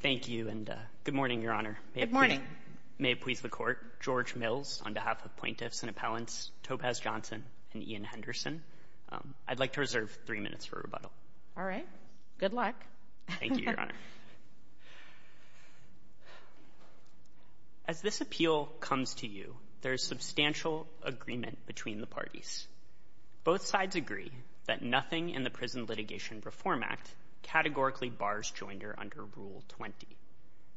Thank you, and good morning, Your Honor. Good morning. May it please the Court, George Mills, on behalf of plaintiffs and appellants, Topaz Johnson and Ian Henderson, I'd like to reserve three minutes for rebuttal. All right. Good luck. Thank you, Your Honor. As this appeal comes to you, there is substantial agreement between the parties. Both sides agree that nothing in the Prison Litigation Reform Act categorically bars joinder under Rule 20.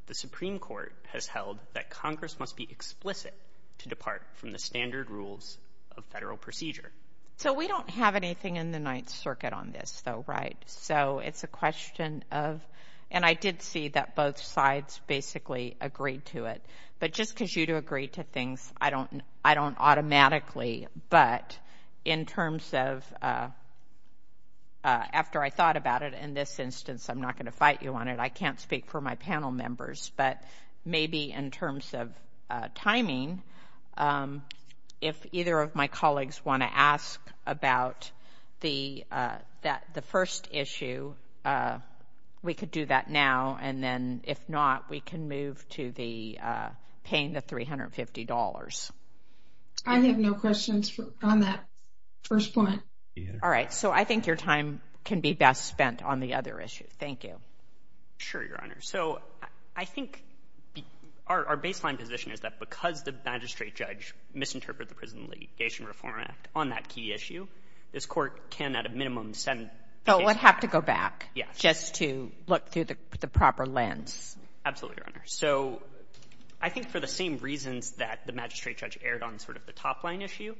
The Supreme Court has held that Congress must be explicit to depart from the standard rules of federal procedure. So we don't have anything in the Ninth Circuit on this, though, right? So it's a question of – and I did see that both sides basically agreed to it. But just because you two agree to things, I don't automatically. But in terms of – after I thought about it, in this instance, I'm not going to fight you on it. I can't speak for my panel members. But maybe in terms of timing, if either of my colleagues want to ask about the first issue, we could do that now. And then if not, we can move to the – paying the $350. I have no questions on that first point. All right. So I think your time can be best spent on the other issue. Thank you. Sure, Your Honor. So I think our baseline position is that because the magistrate judge misinterpreted the Prison Litigation Reform Act on that key issue, this Court can at a minimum send the case back. So it would have to go back just to look through the proper lens. Absolutely, Your Honor. So I think for the same reasons that the magistrate judge erred on sort of the top-line issue,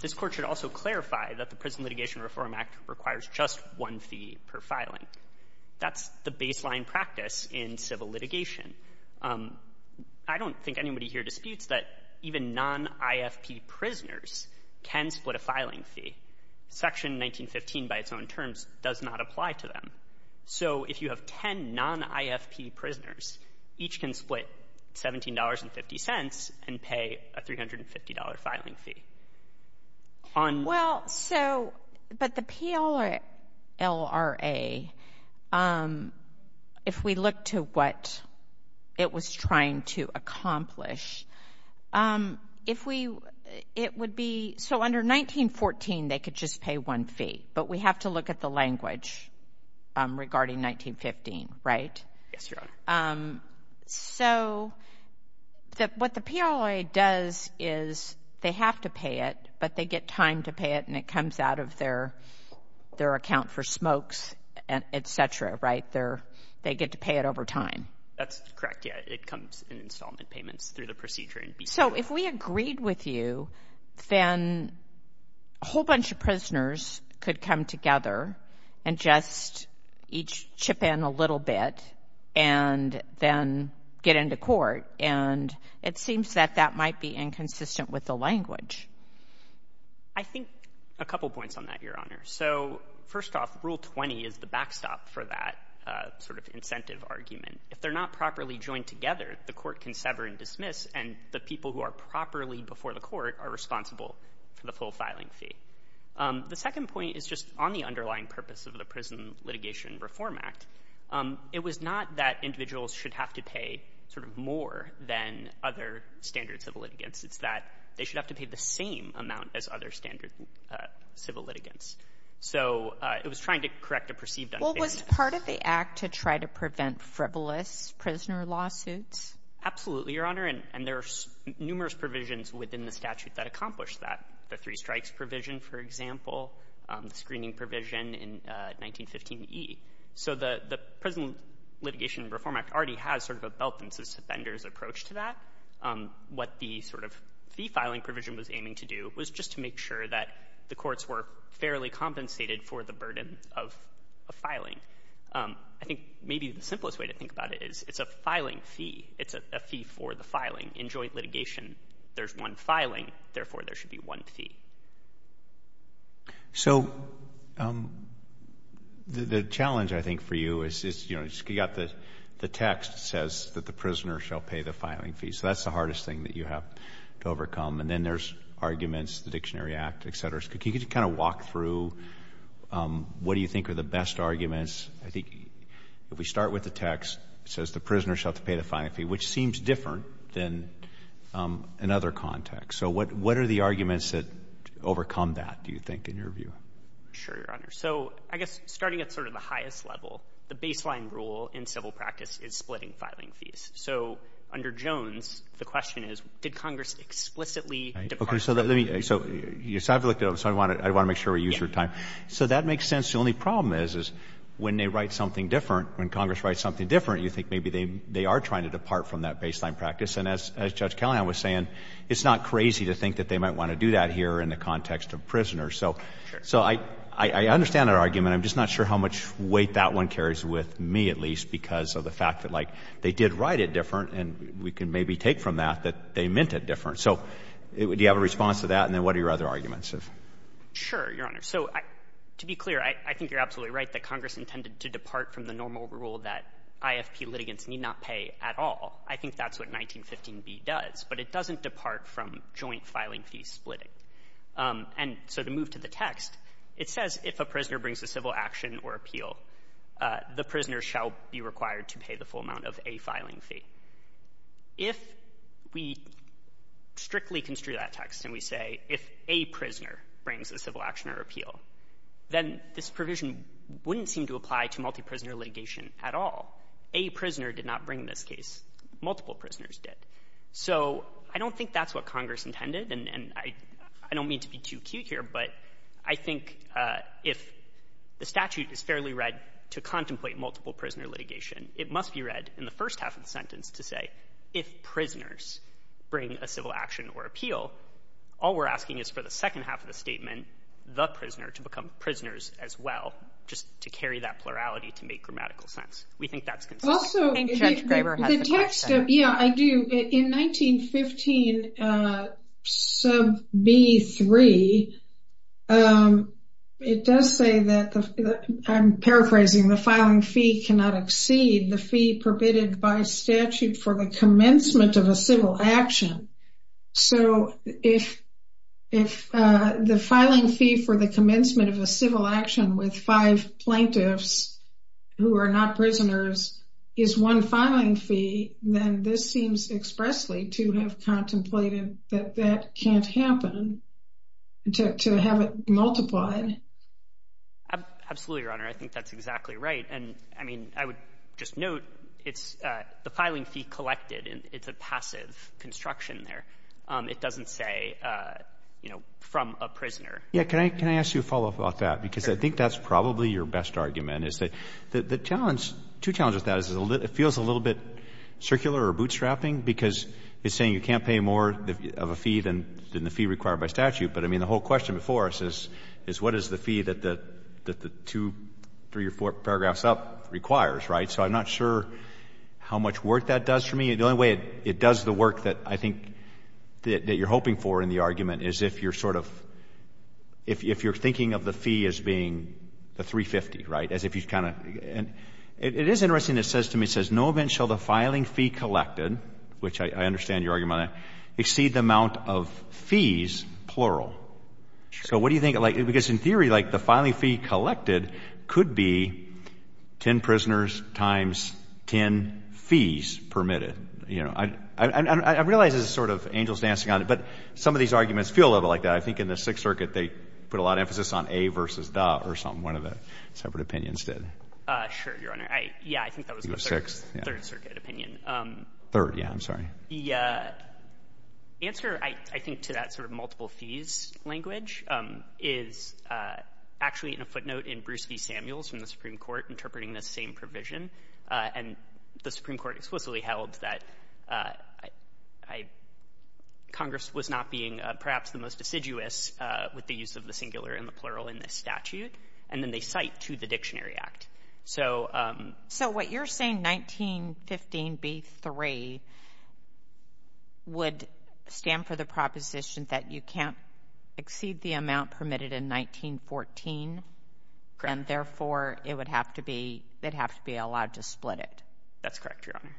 this Court should also clarify that the Prison Litigation Reform Act requires just one fee per filing. That's the baseline practice in civil litigation. I don't think anybody here disputes that even non-IFP prisoners can split a filing fee. Section 1915 by its own terms does not apply to them. So if you have 10 non-IFP prisoners, each can split $17.50 and pay a $350 filing fee. Well, so, but the PLRA, if we look to what it was trying to accomplish, if we, it would be, so under 1914 they could just pay one fee, but we have to look at the language regarding 1915, right? Yes, Your Honor. So what the PLRA does is they have to pay it, but they get time to pay it, and it comes out of their account for smokes, et cetera, right? They get to pay it over time. That's correct, yes. It comes in installment payments through the procedure. So if we agreed with you, then a whole bunch of prisoners could come together and just each chip in a little bit and then get into court, and it seems that that might be inconsistent with the language. I think a couple points on that, Your Honor. So first off, Rule 20 is the backstop for that sort of incentive argument. If they're not properly joined together, the court can sever and dismiss, and the people who are properly before the court are responsible for the full filing fee. The second point is just on the underlying purpose of the Prison Litigation Reform Act. It was not that individuals should have to pay sort of more than other standard civil litigants. It's that they should have to pay the same amount as other standard civil litigants. So it was trying to correct a perceived unfairness. Well, was part of the Act to try to prevent frivolous prisoner lawsuits? Absolutely, Your Honor, and there are numerous provisions within the statute that accomplish that. The three strikes provision, for example, the screening provision in 1915e. So the Prison Litigation Reform Act already has sort of a belt and suspenders approach to that. What the sort of fee filing provision was aiming to do was just to make sure that the courts were fairly compensated for the burden of filing. I think maybe the simplest way to think about it is it's a filing fee. It's a fee for the filing. In joint litigation, there's one filing, therefore there should be one fee. So the challenge, I think, for you is, you know, you've got the text that says that the prisoner shall pay the filing fee. So that's the hardest thing that you have to overcome. And then there's arguments, the Dictionary Act, et cetera. Can you just kind of walk through what do you think are the best arguments? I think if we start with the text, it says the prisoner shall have to pay the filing fee, which seems different than in other contexts. So what are the arguments that overcome that, do you think, in your view? Sure, Your Honor. So I guess starting at sort of the highest level, the baseline rule in civil practice is splitting filing fees. So under Jones, the question is, did Congress explicitly depart from that? Okay. So let me – so I've looked at it, so I want to make sure we use your time. Yes. So that makes sense. The only problem is, is when they write something different, when Congress writes something different, you think maybe they are trying to depart from that baseline practice. And as Judge Callahan was saying, it's not crazy to think that they might want to do that here in the context of prisoners. So I understand that argument. I'm just not sure how much weight that one carries with me, at least, because of the fact that, like, they did write it different and we can maybe take from that that they meant it different. So do you have a response to that? And then what are your other arguments? Sure, Your Honor. So to be clear, I think you're absolutely right that Congress intended to depart from the normal rule that IFP litigants need not pay at all. I think that's what 1915b does. But it doesn't depart from joint filing fee splitting. And so to move to the text, it says if a prisoner brings a civil action or appeal, the prisoner shall be required to pay the full amount of a filing fee. If we strictly construe that text and we say if a prisoner brings a civil action or appeal, then this provision wouldn't seem to apply to multi-prisoner litigation at all. A prisoner did not bring this case. Multiple prisoners did. So I don't think that's what Congress intended, and I don't mean to be too cute here, but I think if the statute is fairly read to contemplate multiple-prisoner litigation, it must be read in the first half of the sentence to say if prisoners bring a civil action or appeal, all we're asking is for the second half of the statement, the prisoner, to become prisoners as well, just to carry that plurality to make grammatical sense. We think that's consistent. And Judge Graber has a question. Yeah, I do. In 1915 sub B3, it does say that, I'm paraphrasing, the filing fee cannot exceed the fee permitted by statute for the commencement of a civil action. So if the filing fee for the commencement of a civil action with five plaintiffs who are not prisoners is one filing fee, then this seems expressly to have contemplated that that can't happen, to have it multiplied. Absolutely, Your Honor. I think that's exactly right. And, I mean, I would just note it's the filing fee collected, and it's a passive construction there. It doesn't say, you know, from a prisoner. Yeah, can I ask you a follow-up about that? Sure. I think that's probably your best argument is that the challenge, two challenges with that is it feels a little bit circular or bootstrapping because it's saying you can't pay more of a fee than the fee required by statute. But, I mean, the whole question before us is what is the fee that the two, three or four paragraphs up requires, right? So I'm not sure how much work that does for me. The only way it does the work that I think that you're hoping for in the argument is if you're sort of, if you're thinking of the fee as being the $350,000, right, as if you kind of, and it is interesting that it says to me, it says, no event shall the filing fee collected, which I understand your argument on that, exceed the amount of fees, plural. So what do you think, like, because in theory, like, the filing fee collected could be 10 prisoners times 10 fees permitted. You know, I realize this is sort of angels dancing on it, but some of these arguments feel a little bit like that. I think in the Sixth Circuit, they put a lot of emphasis on a versus the or something, one of the separate opinions did. Sure, Your Honor. Yeah, I think that was the Third Circuit opinion. Third, yeah, I'm sorry. The answer, I think, to that sort of multiple fees language is actually in a footnote in Bruce v. Samuels from the Supreme Court interpreting this same provision. And the Supreme Court explicitly held that Congress was not being perhaps the most assiduous with the use of the singular and the plural in this statute. And then they cite to the Dictionary Act. So what you're saying, 1915b3, would stand for the proposition that you can't exceed the amount permitted in 1914. Correct. And therefore, it would have to be, they'd have to be allowed to split it. That's correct, Your Honor.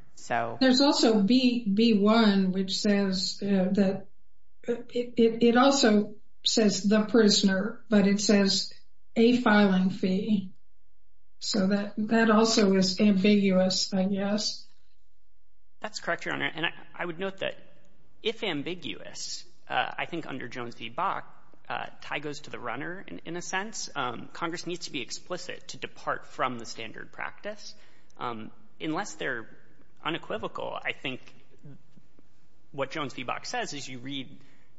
There's also B1, which says that it also says the prisoner, but it says a filing fee. So that also is ambiguous, I guess. That's correct, Your Honor. And I would note that if ambiguous, I think under Jones v. Bach, tie goes to the runner in a sense. Congress needs to be explicit to depart from the standard practice. Unless they're unequivocal, I think what Jones v. Bach says is you read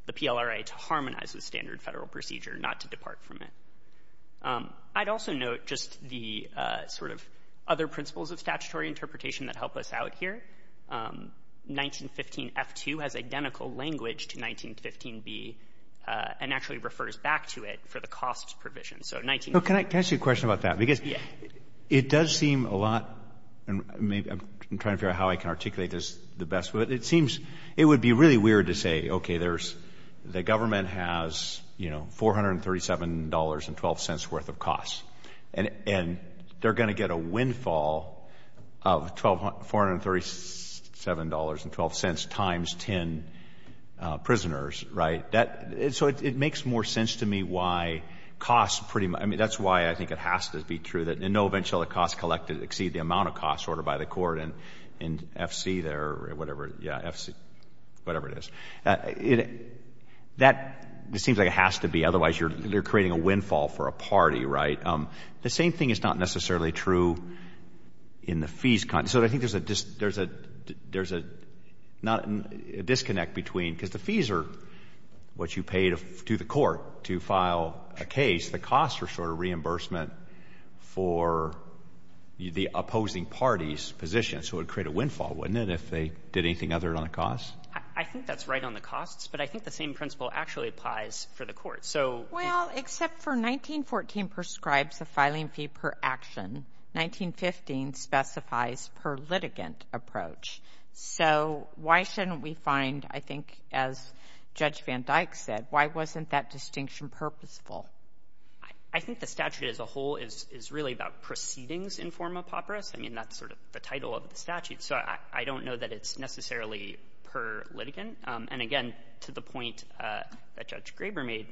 the PLRA to harmonize with standard Federal procedure, not to depart from it. I'd also note just the sort of other principles of statutory interpretation that help us out here. 1915f2 has identical language to 1915b and actually refers back to it for the costs provision. So 1915f2. Can I ask you a question about that? Because it does seem a lot, and I'm trying to figure out how I can articulate this the best way. It seems it would be really weird to say, okay, there's, the government has, you know, $437.12 worth of costs. And they're going to get a windfall of $437.12 times 10 prisoners, right? So it makes more sense to me why costs pretty much, I mean, that's why I think it has to be true, that in no event shall the costs collected exceed the amount of costs ordered by the court in FC there, or whatever, yeah, FC, whatever it is. That seems like it has to be, otherwise you're creating a windfall for a party, right? The same thing is not necessarily true in the fees. So I think there's a disconnect between, because the fees are what you pay to the court to file a case. The costs are sort of reimbursement for the opposing party's position. So it would create a windfall, wouldn't it, if they did anything other than the costs? I think that's right on the costs. But I think the same principle actually applies for the court. Well, except for 1914 prescribes the filing fee per action. 1915 specifies per litigant approach. So why shouldn't we find, I think, as Judge Van Dyck said, why wasn't that distinction purposeful? I think the statute as a whole is really about proceedings in forma papris. I mean, that's sort of the title of the statute. So I don't know that it's necessarily per litigant. And, again, to the point that Judge Graber made,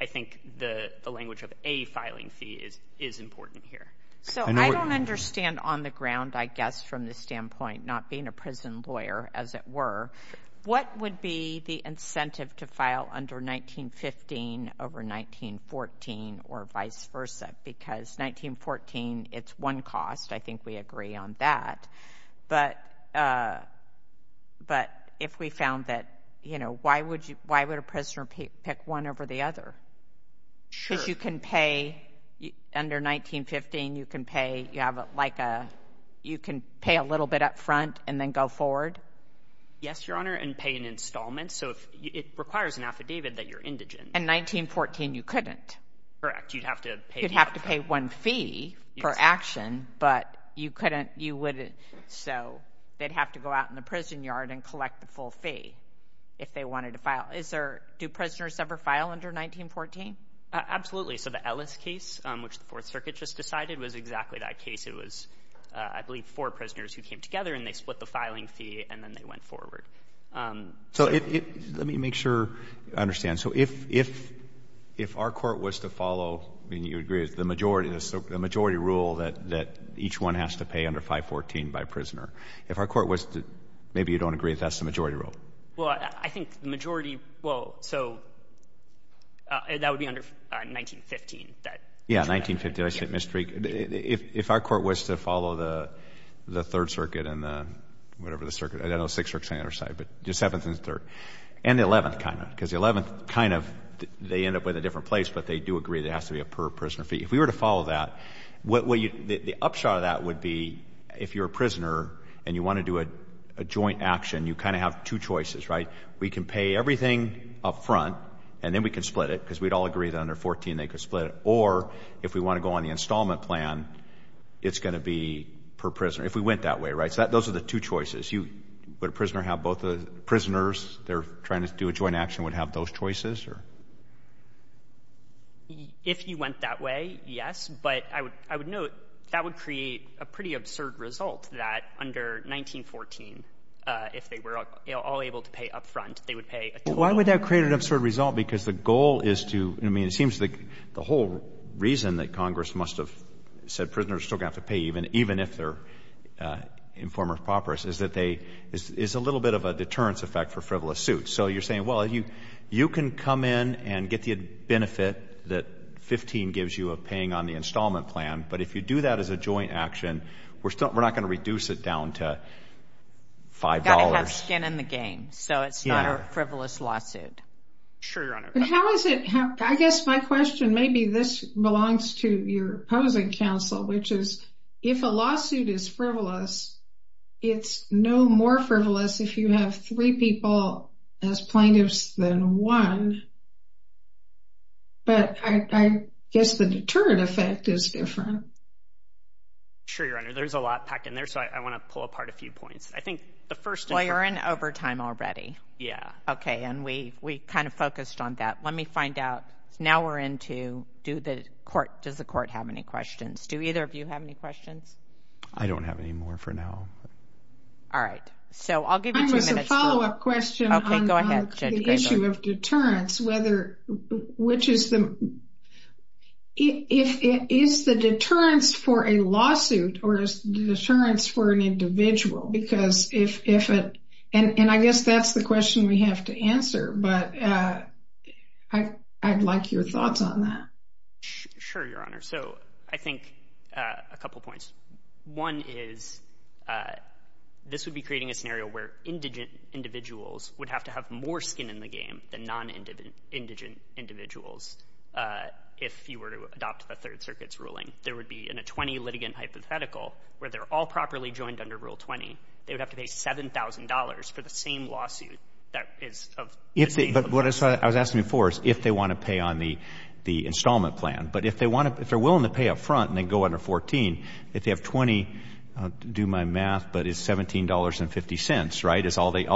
I think the language of a filing fee is important here. So I don't understand on the ground, I guess, from the standpoint not being a prison lawyer, as it were, what would be the incentive to file under 1915 over 1914 or vice versa? Because 1914, it's one cost. I think we agree on that. But if we found that, you know, why would a prisoner pick one over the other? Sure. Because you can pay under 1915. You can pay a little bit up front and then go forward. Yes, Your Honor, and pay an installment. So it requires an affidavit that you're indigent. And 1914, you couldn't. Correct. You'd have to pay up front. You'd have to pay one fee for action, but you couldn't, you wouldn't. So they'd have to go out in the prison yard and collect the full fee if they wanted to file. Do prisoners ever file under 1914? Absolutely. So the Ellis case, which the Fourth Circuit just decided, was exactly that case. It was, I believe, four prisoners who came together, and they split the filing fee, and then they went forward. So let me make sure I understand. So if our court was to follow, I mean, you agree it's the majority rule that each one has to pay under 514 by a prisoner. If our court was to — maybe you don't agree that that's the majority rule. Well, I think the majority — well, so that would be under 1915. Yeah, 1915. I said — if our court was to follow the Third Circuit and the — whatever the circuit. I know Sixth Circuit is on the other side, but the Seventh and the Third. And the Eleventh, kind of, because the Eleventh, kind of, they end up with a different place, but they do agree there has to be a per-prisoner fee. If we were to follow that, the upshot of that would be if you're a prisoner and you want to do a joint action, you kind of have two choices, right? We can pay everything up front, and then we can split it, because we'd all agree that under 14 they could split it. Or if we want to go on the installment plan, it's going to be per-prisoner, if we went that way, right? So those are the two choices. You — would a prisoner have both the — prisoners, they're trying to do a joint action, would have those choices, or? If you went that way, yes. But I would note that would create a pretty absurd result that under 1914, if they were all able to pay up front, they would pay a total amount. Well, why would that create an absurd result? Because the goal is to — I mean, it seems like the whole reason that Congress must have said prisoners are still going to have to pay, even if they're informer properous, is that they — is a little bit of a deterrence effect for frivolous suits. So you're saying, well, you can come in and get the benefit that 15 gives you of paying on the installment plan, but if you do that as a joint action, we're not going to reduce it down to $5. Got to have skin in the game, so it's not a frivolous lawsuit. Sure, Your Honor. But how is it — I guess my question, maybe this belongs to your opposing counsel, which is if a lawsuit is frivolous, it's no more frivolous if you have three people as plaintiffs than one. But I guess the deterrent effect is different. Sure, Your Honor. There's a lot packed in there, so I want to pull apart a few points. I think the first — Well, you're in overtime already. Yeah. Okay, and we kind of focused on that. Let me find out — now we're into, does the court have any questions? Do either of you have any questions? I don't have any more for now. All right. So I'll give you two minutes. I have a follow-up question on the issue of deterrence, whether — which is the — is the deterrence for a lawsuit or is the deterrence for an individual? Because if — and I guess that's the question we have to answer, but I'd like your thoughts on that. Sure, Your Honor. So I think a couple points. One is this would be creating a scenario where indigent individuals would have to have more skin in the game than non-indigent individuals if you were to adopt the Third Circuit's ruling. There would be in a 20-litigant hypothetical where they're all properly joined under Rule 20, they would have to pay $7,000 for the same lawsuit that is of — But what I was asking before is if they want to pay on the installment plan. But if they want to — if they're willing to pay up front and they go under 14, if they have 20, do my math, but it's $17.50, right? It's all they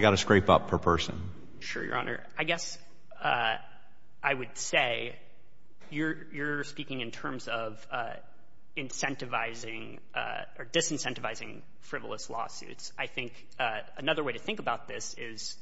got to scrape up per person. Sure, Your Honor. I guess I would say you're speaking in terms of incentivizing or disincentivizing frivolous lawsuits. I think another way to think about this is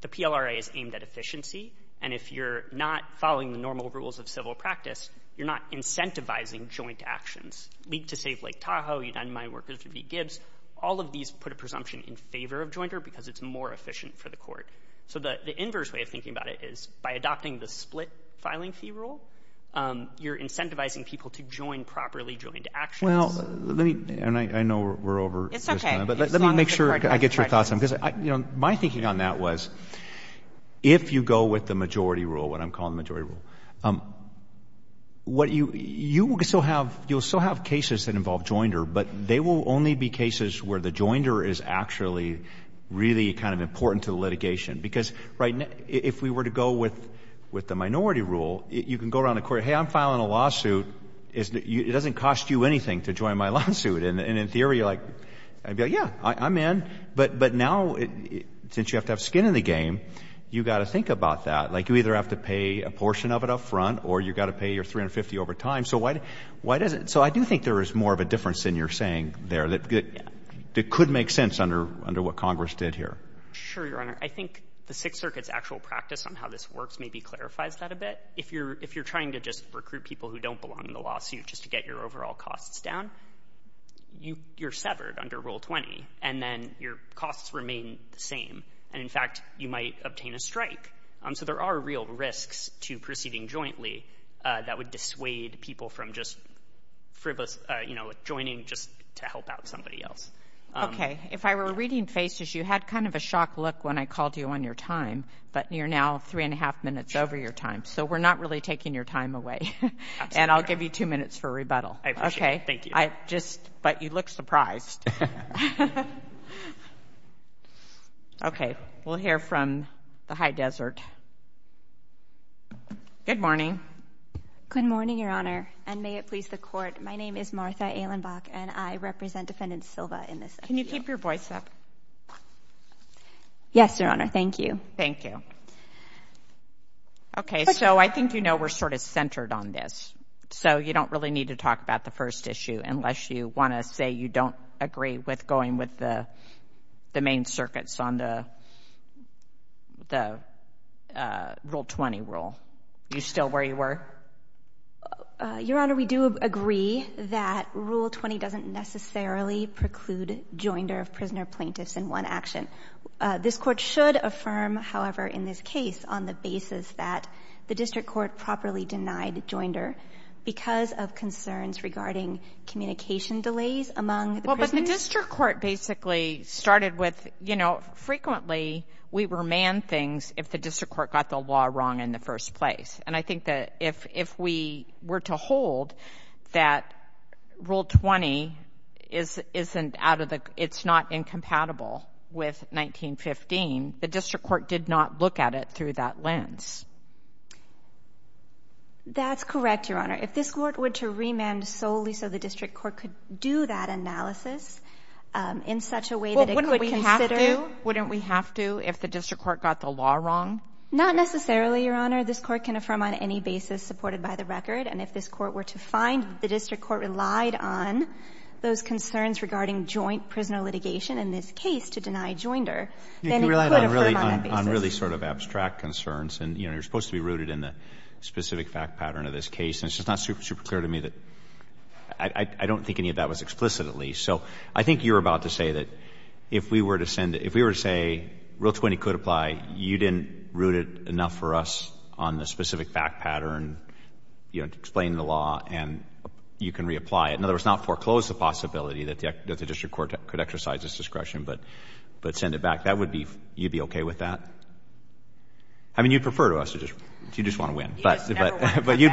the PLRA is aimed at efficiency, and if you're not following the normal rules of civil practice, you're not incentivizing joint actions. League to Save Lake Tahoe, United Mine Workers to Beat Gibbs, all of these put a presumption in favor of jointer because it's more efficient for the court. So the inverse way of thinking about it is by adopting the split filing fee rule, you're incentivizing people to join properly joined actions. Well, let me — and I know we're over — It's okay. Let me make sure I get your thoughts on this. My thinking on that was if you go with the majority rule, what I'm calling the majority rule, you will still have cases that involve jointer, but they will only be cases where the jointer is actually really kind of important to litigation. Because if we were to go with the minority rule, you can go around the court, hey, I'm filing a lawsuit. It doesn't cost you anything to join my lawsuit. And in theory, you're like, yeah, I'm in. But now since you have to have skin in the game, you've got to think about that. Like you either have to pay a portion of it up front or you've got to pay your 350 over time. So why doesn't — so I do think there is more of a difference in your saying there that could make sense under what Congress did here. Sure, Your Honor. I think the Sixth Circuit's actual practice on how this works maybe clarifies that a bit. If you're trying to just recruit people who don't belong in the lawsuit just to get your overall costs down, you're severed under Rule 20, and then your costs remain the same. And, in fact, you might obtain a strike. So there are real risks to proceeding jointly that would dissuade people from just joining just to help out somebody else. Okay. If I were reading faces, you had kind of a shocked look when I called you on your time, but you're now three and a half minutes over your time. So we're not really taking your time away. And I'll give you two minutes for rebuttal. I appreciate it. Thank you. But you look surprised. Okay. We'll hear from the High Desert. Good morning. Good morning, Your Honor, and may it please the Court. My name is Martha Ehlenbach, and I represent Defendant Silva in this. Can you keep your voice up? Yes, Your Honor. Thank you. Thank you. Okay. So I think you know we're sort of centered on this, so you don't really need to talk about the first issue unless you want to say you don't agree with going with the main circuits on the Rule 20 rule. Are you still where you were? Your Honor, we do agree that Rule 20 doesn't necessarily preclude joinder of prisoner plaintiffs in one action. This Court should affirm, however, in this case, that the district court properly denied joinder because of concerns regarding communication delays among the prisoners. Well, but the district court basically started with, you know, frequently we remand things if the district court got the law wrong in the first place. And I think that if we were to hold that Rule 20 isn't out of the ñ it's not incompatible with 1915, the district court did not look at it through that lens. That's correct, Your Honor. If this court were to remand solely so the district court could do that analysis in such a way that it could consider ñ Well, wouldn't we have to? Wouldn't we have to if the district court got the law wrong? Not necessarily, Your Honor. This court can affirm on any basis supported by the record. And if this court were to find the district court relied on those concerns regarding joint prisoner litigation in this case to deny joinder, then it could affirm on that basis. You can rely on really sort of abstract concerns. And, you know, you're supposed to be rooted in the specific fact pattern of this case. And it's just not super clear to me that ñ I don't think any of that was explicit, at least. So I think you're about to say that if we were to send ñ if we were to say Rule 20 could apply, you didn't root it enough for us on the specific fact pattern, you know, to explain the law, and you can reapply it. In other words, not foreclose the possibility that the district court could exercise its discretion, but send it back. That would be ñ you'd be okay with that? I mean, you'd prefer to us to just ñ you'd just want to win. But you'd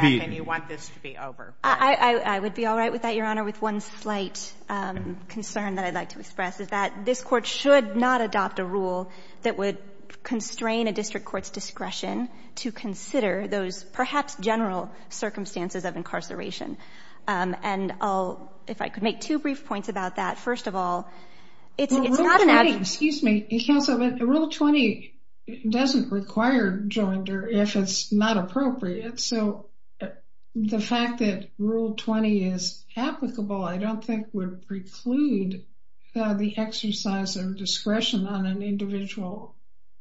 be ñ You just never want to win back, and you want this to be over. I would be all right with that, Your Honor, with one slight concern that I'd like to express, is that this court should not adopt a rule that would constrain a district court's discretion to consider those perhaps general circumstances of incarceration. And I'll ñ if I could make two brief points about that. First of all, it's not an ñ Well, Rule 20 ñ excuse me, counsel. Rule 20 doesn't require joinder if it's not appropriate. So the fact that Rule 20 is applicable I don't think would preclude the exercise of discretion on an individual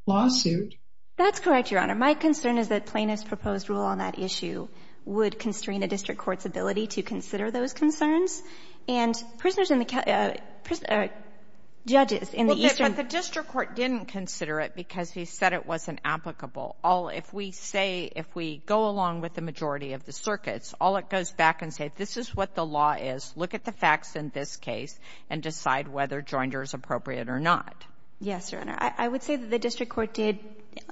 lawsuit. That's correct, Your Honor. My concern is that plaintiff's proposed rule on that issue would constrain a district court's ability to consider those concerns, and prisoners in the ñ judges in the Eastern ñ But the district court didn't consider it because he said it wasn't applicable. All ñ if we say ñ if we go along with the majority of the circuits, all it goes back and says, this is what the law is. Look at the facts in this case and decide whether joinder is appropriate or not. Yes, Your Honor. I would say that the district court did,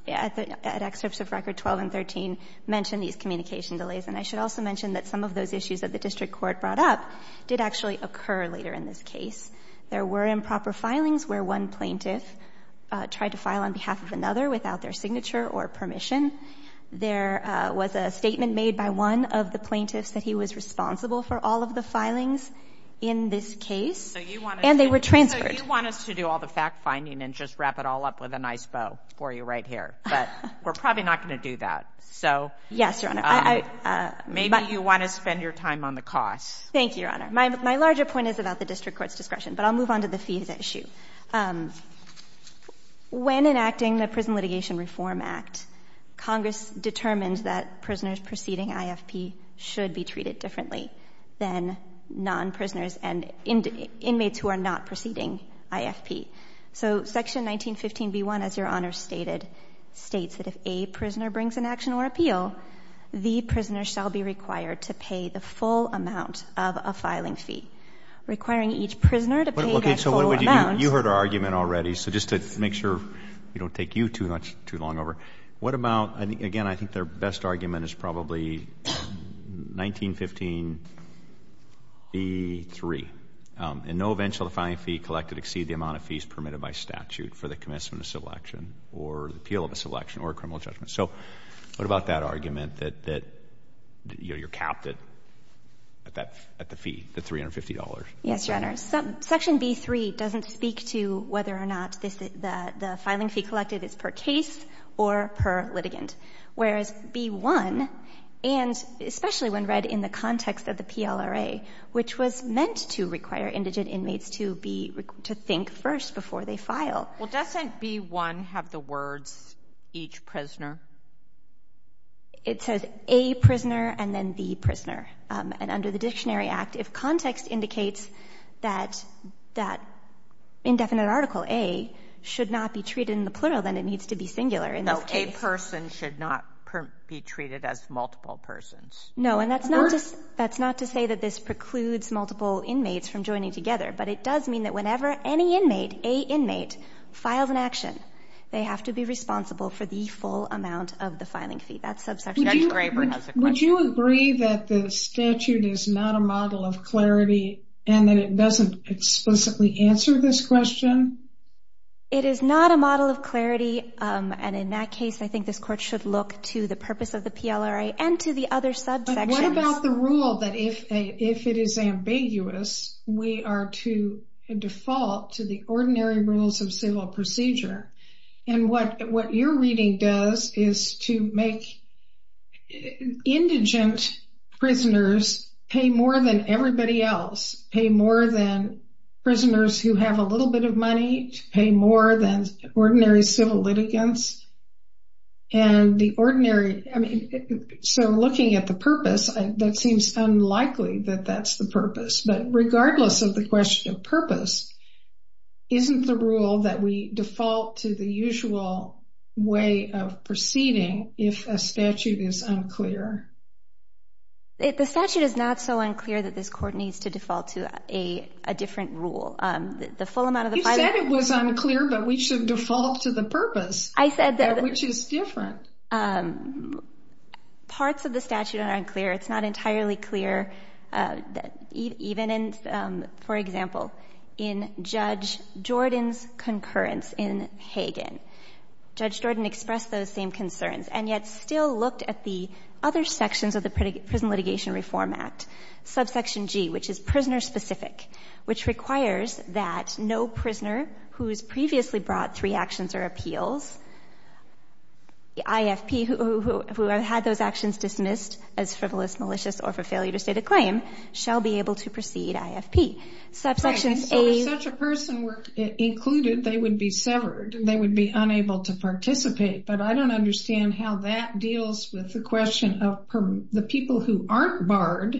at excerpts of Record 12 and 13, mention these communication delays. And I should also mention that some of those issues that the district court brought up did actually occur later in this case. There were improper filings where one plaintiff tried to file on behalf of another without their signature or permission. There was a statement made by one of the plaintiffs that he was responsible for all of the filings in this case. And they were transferred. So you want us to do all the fact-finding and just wrap it all up with a nice bow for you right here. But we're probably not going to do that. So maybe you want to spend your time on the costs. Thank you, Your Honor. My larger point is about the district court's discretion. But I'll move on to the fees issue. When enacting the Prison Litigation Reform Act, Congress determined that prisoners preceding IFP should be treated differently than non-prisoners and inmates who are not preceding IFP. So Section 1915b1, as Your Honor stated, states that if a prisoner brings an action or appeal, the prisoner shall be required to pay the full amount of a filing fee, requiring each prisoner to pay that full amount. So what would you do? You heard our argument already. So just to make sure we don't take you too long over, what about, again, I think their best argument is probably 1915b3. In no event shall the filing fee collected exceed the amount of fees permitted by statute for the commencement of civil action or the appeal of a civil action or a criminal judgment. So what about that argument that you're capped at the fee, the $350? Yes, Your Honor. Section b3 doesn't speak to whether or not the filing fee collected is per case or per litigant. Whereas b1, and especially when read in the context of the PLRA, which was meant to require indigent inmates to be to think first before they file. Well, doesn't b1 have the words each prisoner? It says a prisoner and then the prisoner. And under the Dictionary Act, if context indicates that that indefinite article a should not be treated in the plural, then it needs to be singular in this case. A person should not be treated as multiple persons. No, and that's not to say that this precludes multiple inmates from joining together, but it does mean that whenever any inmate, a inmate, files an action, they have to be responsible for the full amount of the filing fee. Judge Graber has a question. Would you agree that the statute is not a model of clarity and that it doesn't explicitly answer this question? It is not a model of clarity, and in that case, I think this court should look to the purpose of the PLRA and to the other subsections. But what about the rule that if it is ambiguous, we are to default to the ordinary rules of civil procedure? And what your reading does is to make indigent prisoners pay more than everybody else, pay more than prisoners who have a little bit of money, pay more than ordinary civil litigants. And the ordinary, I mean, so looking at the purpose, that seems unlikely that that's the purpose. But regardless of the question of purpose, isn't the rule that we default to the usual way of proceeding if a statute is unclear? The statute is not so unclear that this court needs to default to a different rule. The full amount of the filing... You said it was unclear, but we should default to the purpose. I said that... Which is different. Parts of the statute are unclear. It's not entirely clear, even in, for example, in Judge Jordan's concurrence in Hagan. Judge Jordan expressed those same concerns and yet still looked at the other sections of the Prison Litigation Reform Act. Subsection G, which is prisoner-specific, which requires that no prisoner who has previously brought three actions or appeals, IFP, who had those actions dismissed as frivolous, malicious, or for failure to state a claim, shall be able to proceed IFP. Right, and so if such a person were included, they would be severed. They would be unable to participate. But I don't understand how that deals with the question of the people who aren't barred,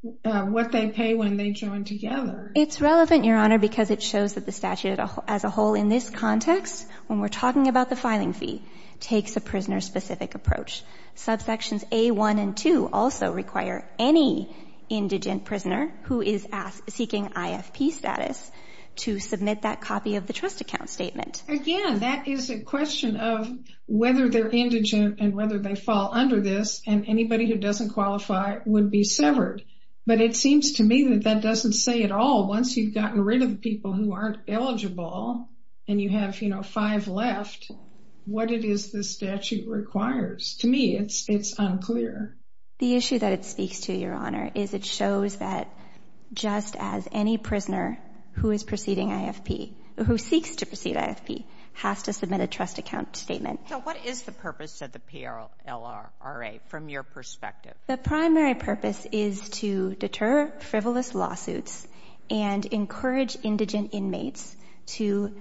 what they pay when they join together. It's relevant, Your Honor, because it shows that the statute as a whole in this context, when we're talking about the filing fee, takes a prisoner-specific approach. Subsections A1 and 2 also require any indigent prisoner who is seeking IFP status to submit that copy of the trust account statement. Again, that is a question of whether they're indigent and whether they fall under this, and anybody who doesn't qualify would be severed. But it seems to me that that doesn't say it all. Once you've gotten rid of the people who aren't eligible and you have, you know, five left, what it is this statute requires. To me, it's unclear. The issue that it speaks to, Your Honor, is it shows that just as any prisoner who is proceeding IFP, who seeks to proceed IFP, has to submit a trust account statement. So what is the purpose of the PLRRA from your perspective? The primary purpose is to deter frivolous lawsuits and encourage indigent inmates to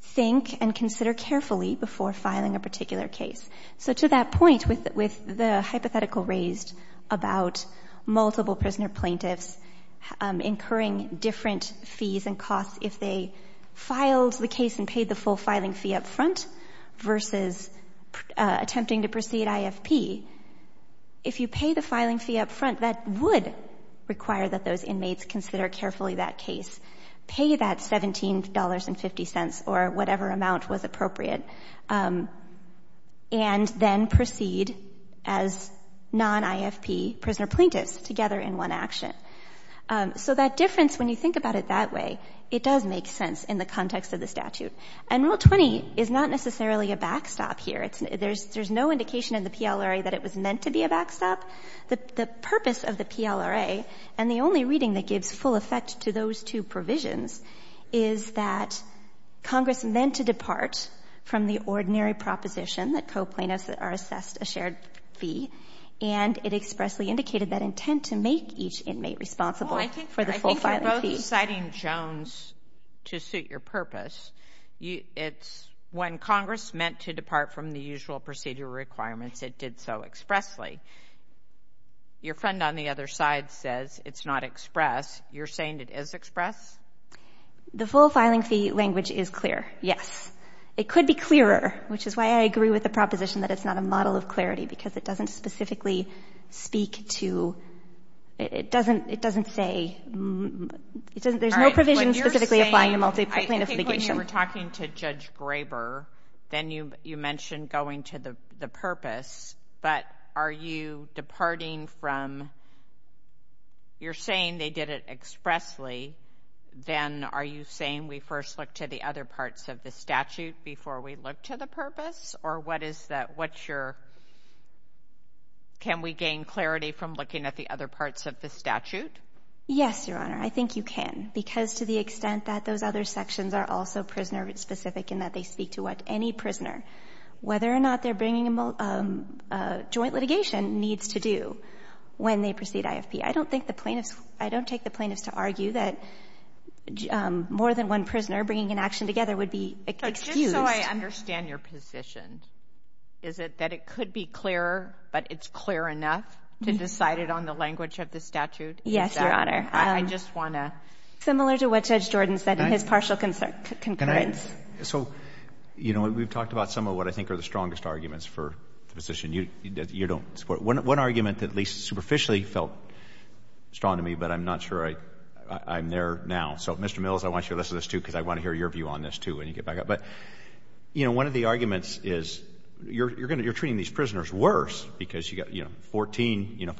think and consider carefully before filing a particular case. So to that point, with the hypothetical raised about multiple prisoner plaintiffs incurring different fees and costs if they filed the case and paid the full filing fee up front versus attempting to proceed IFP, if you pay the filing fee up front, that would require that those inmates consider carefully that case, pay that $17.50 or whatever amount was appropriate, and then proceed as non-IFP prisoner plaintiffs together in one action. So that difference, when you think about it that way, it does make sense in the context of the statute. And Rule 20 is not necessarily a backstop here. There's no indication in the PLRRA that it was meant to be a backstop. The purpose of the PLRRA and the only reading that gives full effect to those two provisions is that Congress meant to depart from the ordinary proposition that coplainants are assessed a shared fee, and it expressly indicated that intent to make each inmate responsible for the full filing fee. I think you're both citing Jones to suit your purpose. When Congress meant to depart from the usual procedure requirements, it did so expressly. Your friend on the other side says it's not express. You're saying it is express? The full filing fee language is clear, yes. It could be clearer, which is why I agree with the proposition that it's not a model of clarity because it doesn't specifically speak to – it doesn't say – there's no provision specifically applying to multi-plaintiff litigation. I think when you were talking to Judge Graber, then you mentioned going to the purpose. But are you departing from – you're saying they did it expressly. Then are you saying we first look to the other parts of the statute before we look to the purpose? Or what is that? What's your – can we gain clarity from looking at the other parts of the statute? Yes, Your Honor. I think you can, because to the extent that those other sections are also prisoner-specific and that they speak to what any prisoner, whether or not they're bringing a joint litigation, needs to do when they proceed IFP. I don't think the plaintiffs – I don't take the plaintiffs to argue that more than one prisoner bringing an action together would be excused. But just so I understand your position, is it that it could be clearer, but it's clear enough to decide it on the language of the statute? Yes, Your Honor. I just want to – Similar to what Judge Jordan said in his partial concurrence. So, you know, we've talked about some of what I think are the strongest arguments for the position you don't support. One argument that at least superficially felt strong to me, but I'm not sure I'm there now. So, Mr. Mills, I want you to listen to this too when you get back up. But, you know, one of the arguments is you're treating these prisoners worse because you've got, you know, 14. You know,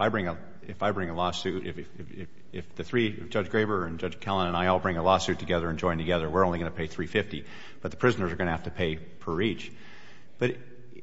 if I bring a lawsuit, if the three – Judge Graber and Judge Kellan and I all bring a lawsuit together and join together, we're only going to pay $350. But the prisoners are going to have to pay per each. But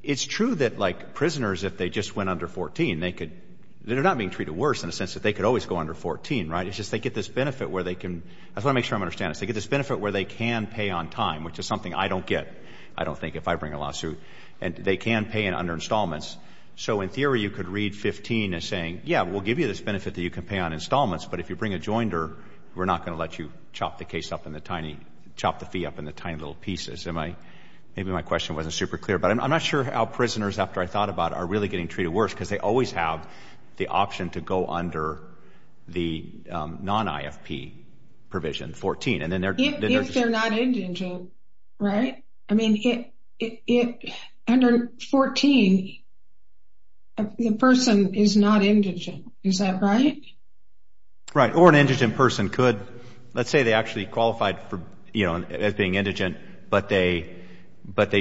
it's true that, like, prisoners, if they just went under 14, they could – they're not being treated worse in the sense that they could always go under 14, right? It's just they get this benefit where they can – I just want to make sure I'm understanding this. They get this benefit where they can pay on time, which is something I don't get, I don't think, if I bring a lawsuit. And they can pay under installments. So, in theory, you could read 15 as saying, yeah, we'll give you this benefit that you can pay on installments, but if you bring a joinder, we're not going to let you chop the case up in the tiny – chop the fee up in the tiny little pieces. Maybe my question wasn't super clear, but I'm not sure how prisoners, after I thought about it, are really getting treated worse because they always have the option to go under the non-IFP provision, 14. If they're not indigent, right? I mean, under 14, the person is not indigent. Is that right? Right, or an indigent person could – let's say they actually qualified as being indigent, but they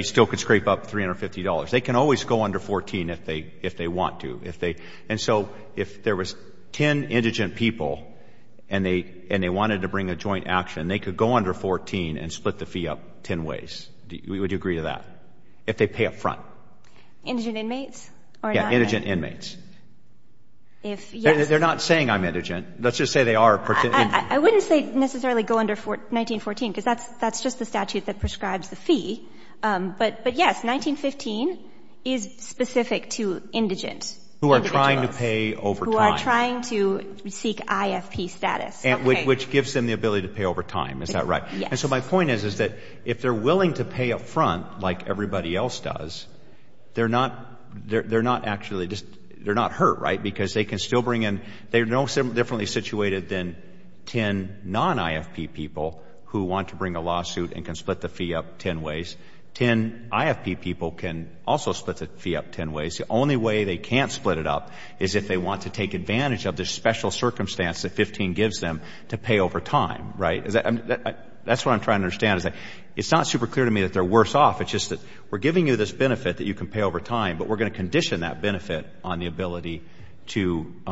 still could scrape up $350. They can always go under 14 if they want to. And so if there was 10 indigent people and they wanted to bring a joint action, they could go under 14 and split the fee up 10 ways. Would you agree to that, if they pay up front? Indigent inmates? Yeah, indigent inmates. If, yes. They're not saying I'm indigent. Let's just say they are. I wouldn't say necessarily go under 1914 because that's just the statute that prescribes the fee. But, yes, 1915 is specific to indigent individuals. Who are trying to pay over time. Who are trying to seek IFP status. Okay. Which gives them the ability to pay over time. Is that right? Yes. And so my point is, is that if they're willing to pay up front like everybody else does, they're not actually just – they're not hurt, right? Because they can still bring in – they're no differently situated than 10 non-IFP people who want to bring a lawsuit and can split the fee up 10 ways. 10 IFP people can also split the fee up 10 ways. The only way they can't split it up is if they want to take advantage of this special circumstance that 15 gives them to pay over time, right? That's what I'm trying to understand. It's not super clear to me that they're worse off. It's just that we're giving you this benefit that you can pay over time, but we're going to condition that benefit on the ability to –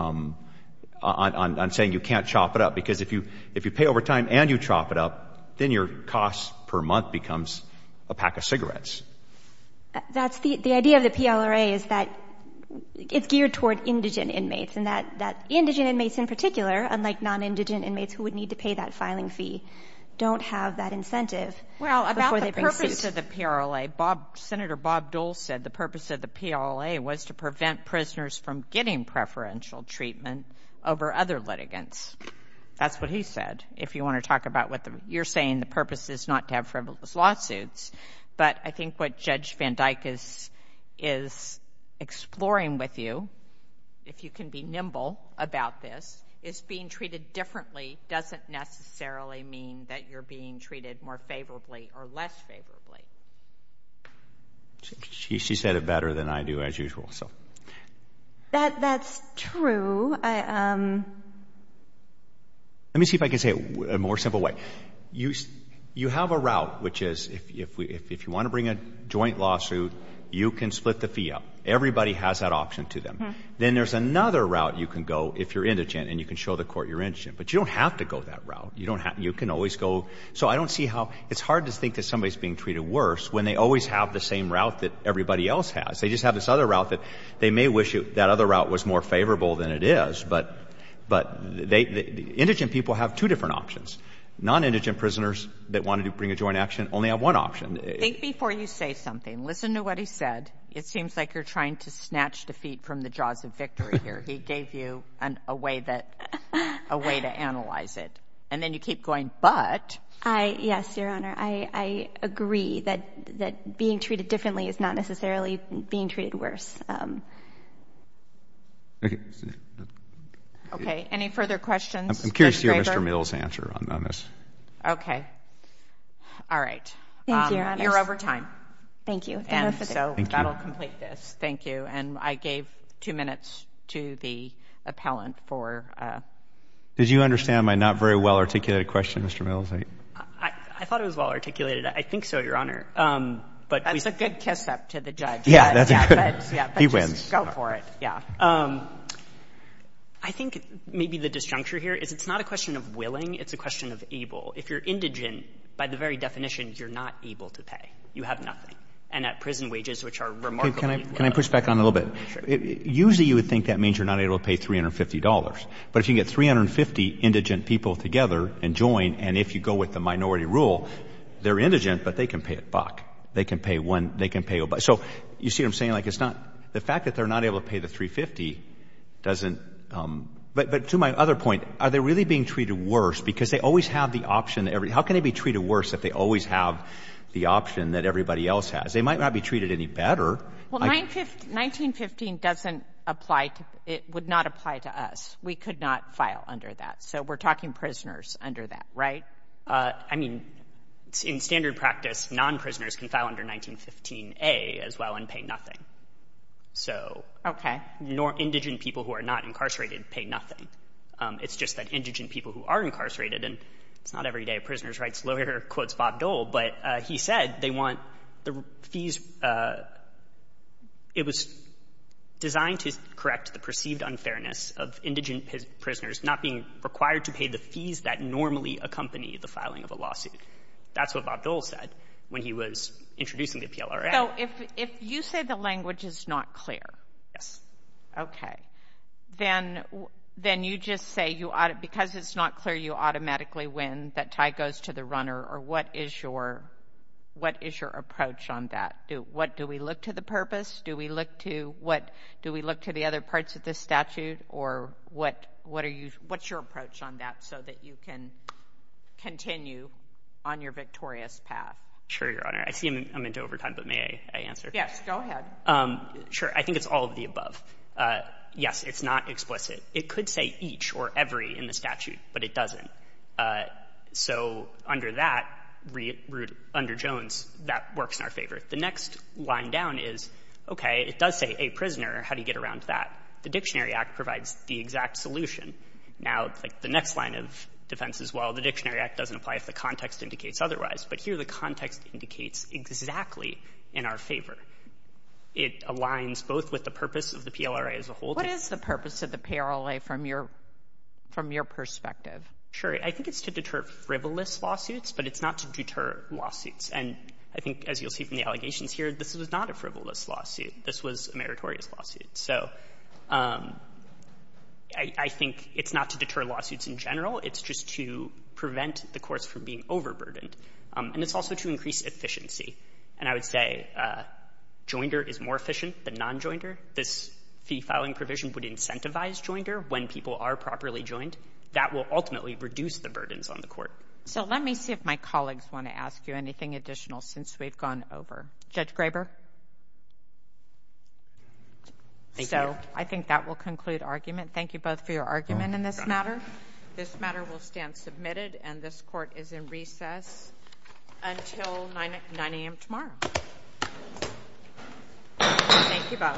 on saying you can't chop it up. Because if you pay over time and you chop it up, then your cost per month becomes a pack of cigarettes. The idea of the PLRA is that it's geared toward indigent inmates, and that indigent inmates in particular, unlike non-indigent inmates who would need to pay that filing fee, don't have that incentive before they bring suit. Well, about the purpose of the PLRA, Senator Bob Dole said the purpose of the PLRA was to prevent prisoners from getting preferential treatment over other litigants. That's what he said. If you want to talk about what the – you're saying the purpose is not to have frivolous lawsuits, but I think what Judge Van Dyke is exploring with you, if you can be nimble about this, is being treated differently doesn't necessarily mean that you're being treated more favorably or less favorably. She said it better than I do, as usual, so. That's true. Let me see if I can say it a more simple way. You have a route, which is if you want to bring a joint lawsuit, you can split the fee up. Everybody has that option to them. Then there's another route you can go if you're indigent and you can show the court you're indigent. But you don't have to go that route. So I don't see how – it's hard to think that somebody's being treated worse when they always have the same route that everybody else has. They just have this other route that they may wish that other route was more favorable than it is. But indigent people have two different options. Non-indigent prisoners that wanted to bring a joint action only have one option. Think before you say something. Listen to what he said. It seems like you're trying to snatch defeat from the jaws of victory here. He gave you a way that – a way to analyze it. And then you keep going, but. Yes, Your Honor. I agree that being treated differently is not necessarily being treated worse. Okay. Any further questions? I'm curious to hear Mr. Mills' answer on this. Okay. All right. Thank you, Your Honor. You're over time. Thank you. And so that will complete this. Thank you. And I gave two minutes to the appellant for – Did you understand my not very well-articulated question, Mr. Mills? I thought it was well-articulated. I think so, Your Honor. That's a good kiss-up to the judge. Yeah, that's a good – he wins. Go for it. Yeah. I think maybe the disjuncture here is it's not a question of willing. It's a question of able. If you're indigent, by the very definition, you're not able to pay. You have nothing. And at prison wages, which are remarkably low. Can I push back on it a little bit? Sure. Usually you would think that means you're not able to pay $350. But if you can get 350 indigent people together and join, and if you go with the minority rule, they're indigent, but they can pay it back. They can pay one – they can pay – so you see what I'm saying? Like, it's not – the fact that they're not able to pay the $350 doesn't – but to my other point, are they really being treated worse? Because they always have the option – how can they be treated worse if they always have the option that everybody else has? They might not be treated any better. Well, 1915 doesn't apply to – it would not apply to us. We could not file under that. So we're talking prisoners under that, right? I mean, in standard practice, non-prisoners can file under 1915a as well and pay nothing. So indigent people who are not incarcerated pay nothing. It's just that indigent people who are incarcerated – and it's not every day a prisoner's rights lawyer quotes Bob Dole, but he said they want the fees – it was designed to correct the perceived unfairness of indigent prisoners not being required to pay the fees that normally accompany the filing of a lawsuit. That's what Bob Dole said when he was introducing the PLRA. So if you say the language is not clear. Yes. Okay. Then you just say because it's not clear, you automatically win, that tie goes to the runner, or what is your approach on that? Do we look to the purpose? Do we look to the other parts of this statute? Or what's your approach on that so that you can continue on your victorious path? Sure, Your Honor. I see I'm into overtime, but may I answer? Yes, go ahead. Sure. I think it's all of the above. Yes, it's not explicit. It could say each or every in the statute, but it doesn't. So under that, under Jones, that works in our favor. The next line down is, okay, it does say a prisoner. How do you get around that? The Dictionary Act provides the exact solution. Now, like, the next line of defense is, well, the Dictionary Act doesn't apply if the context indicates otherwise. But here the context indicates exactly in our favor. It aligns both with the purpose of the PLRA as a whole. What is the purpose of the PLRA from your perspective? Sure. I think it's to deter frivolous lawsuits, but it's not to deter lawsuits. And I think, as you'll see from the allegations here, this was not a frivolous lawsuit. This was a meritorious lawsuit. So I think it's not to deter lawsuits in general. It's just to prevent the courts from being overburdened. And it's also to increase efficiency. And I would say joinder is more efficient than non-joinder. This fee filing provision would incentivize joinder when people are properly joined. That will ultimately reduce the burdens on the court. So let me see if my colleagues want to ask you anything additional since we've gone over. Judge Graber? Thank you. So I think that will conclude argument. Thank you both for your argument in this matter. This matter will stand submitted, and this court is in recess until 9 a.m. tomorrow. Thank you both.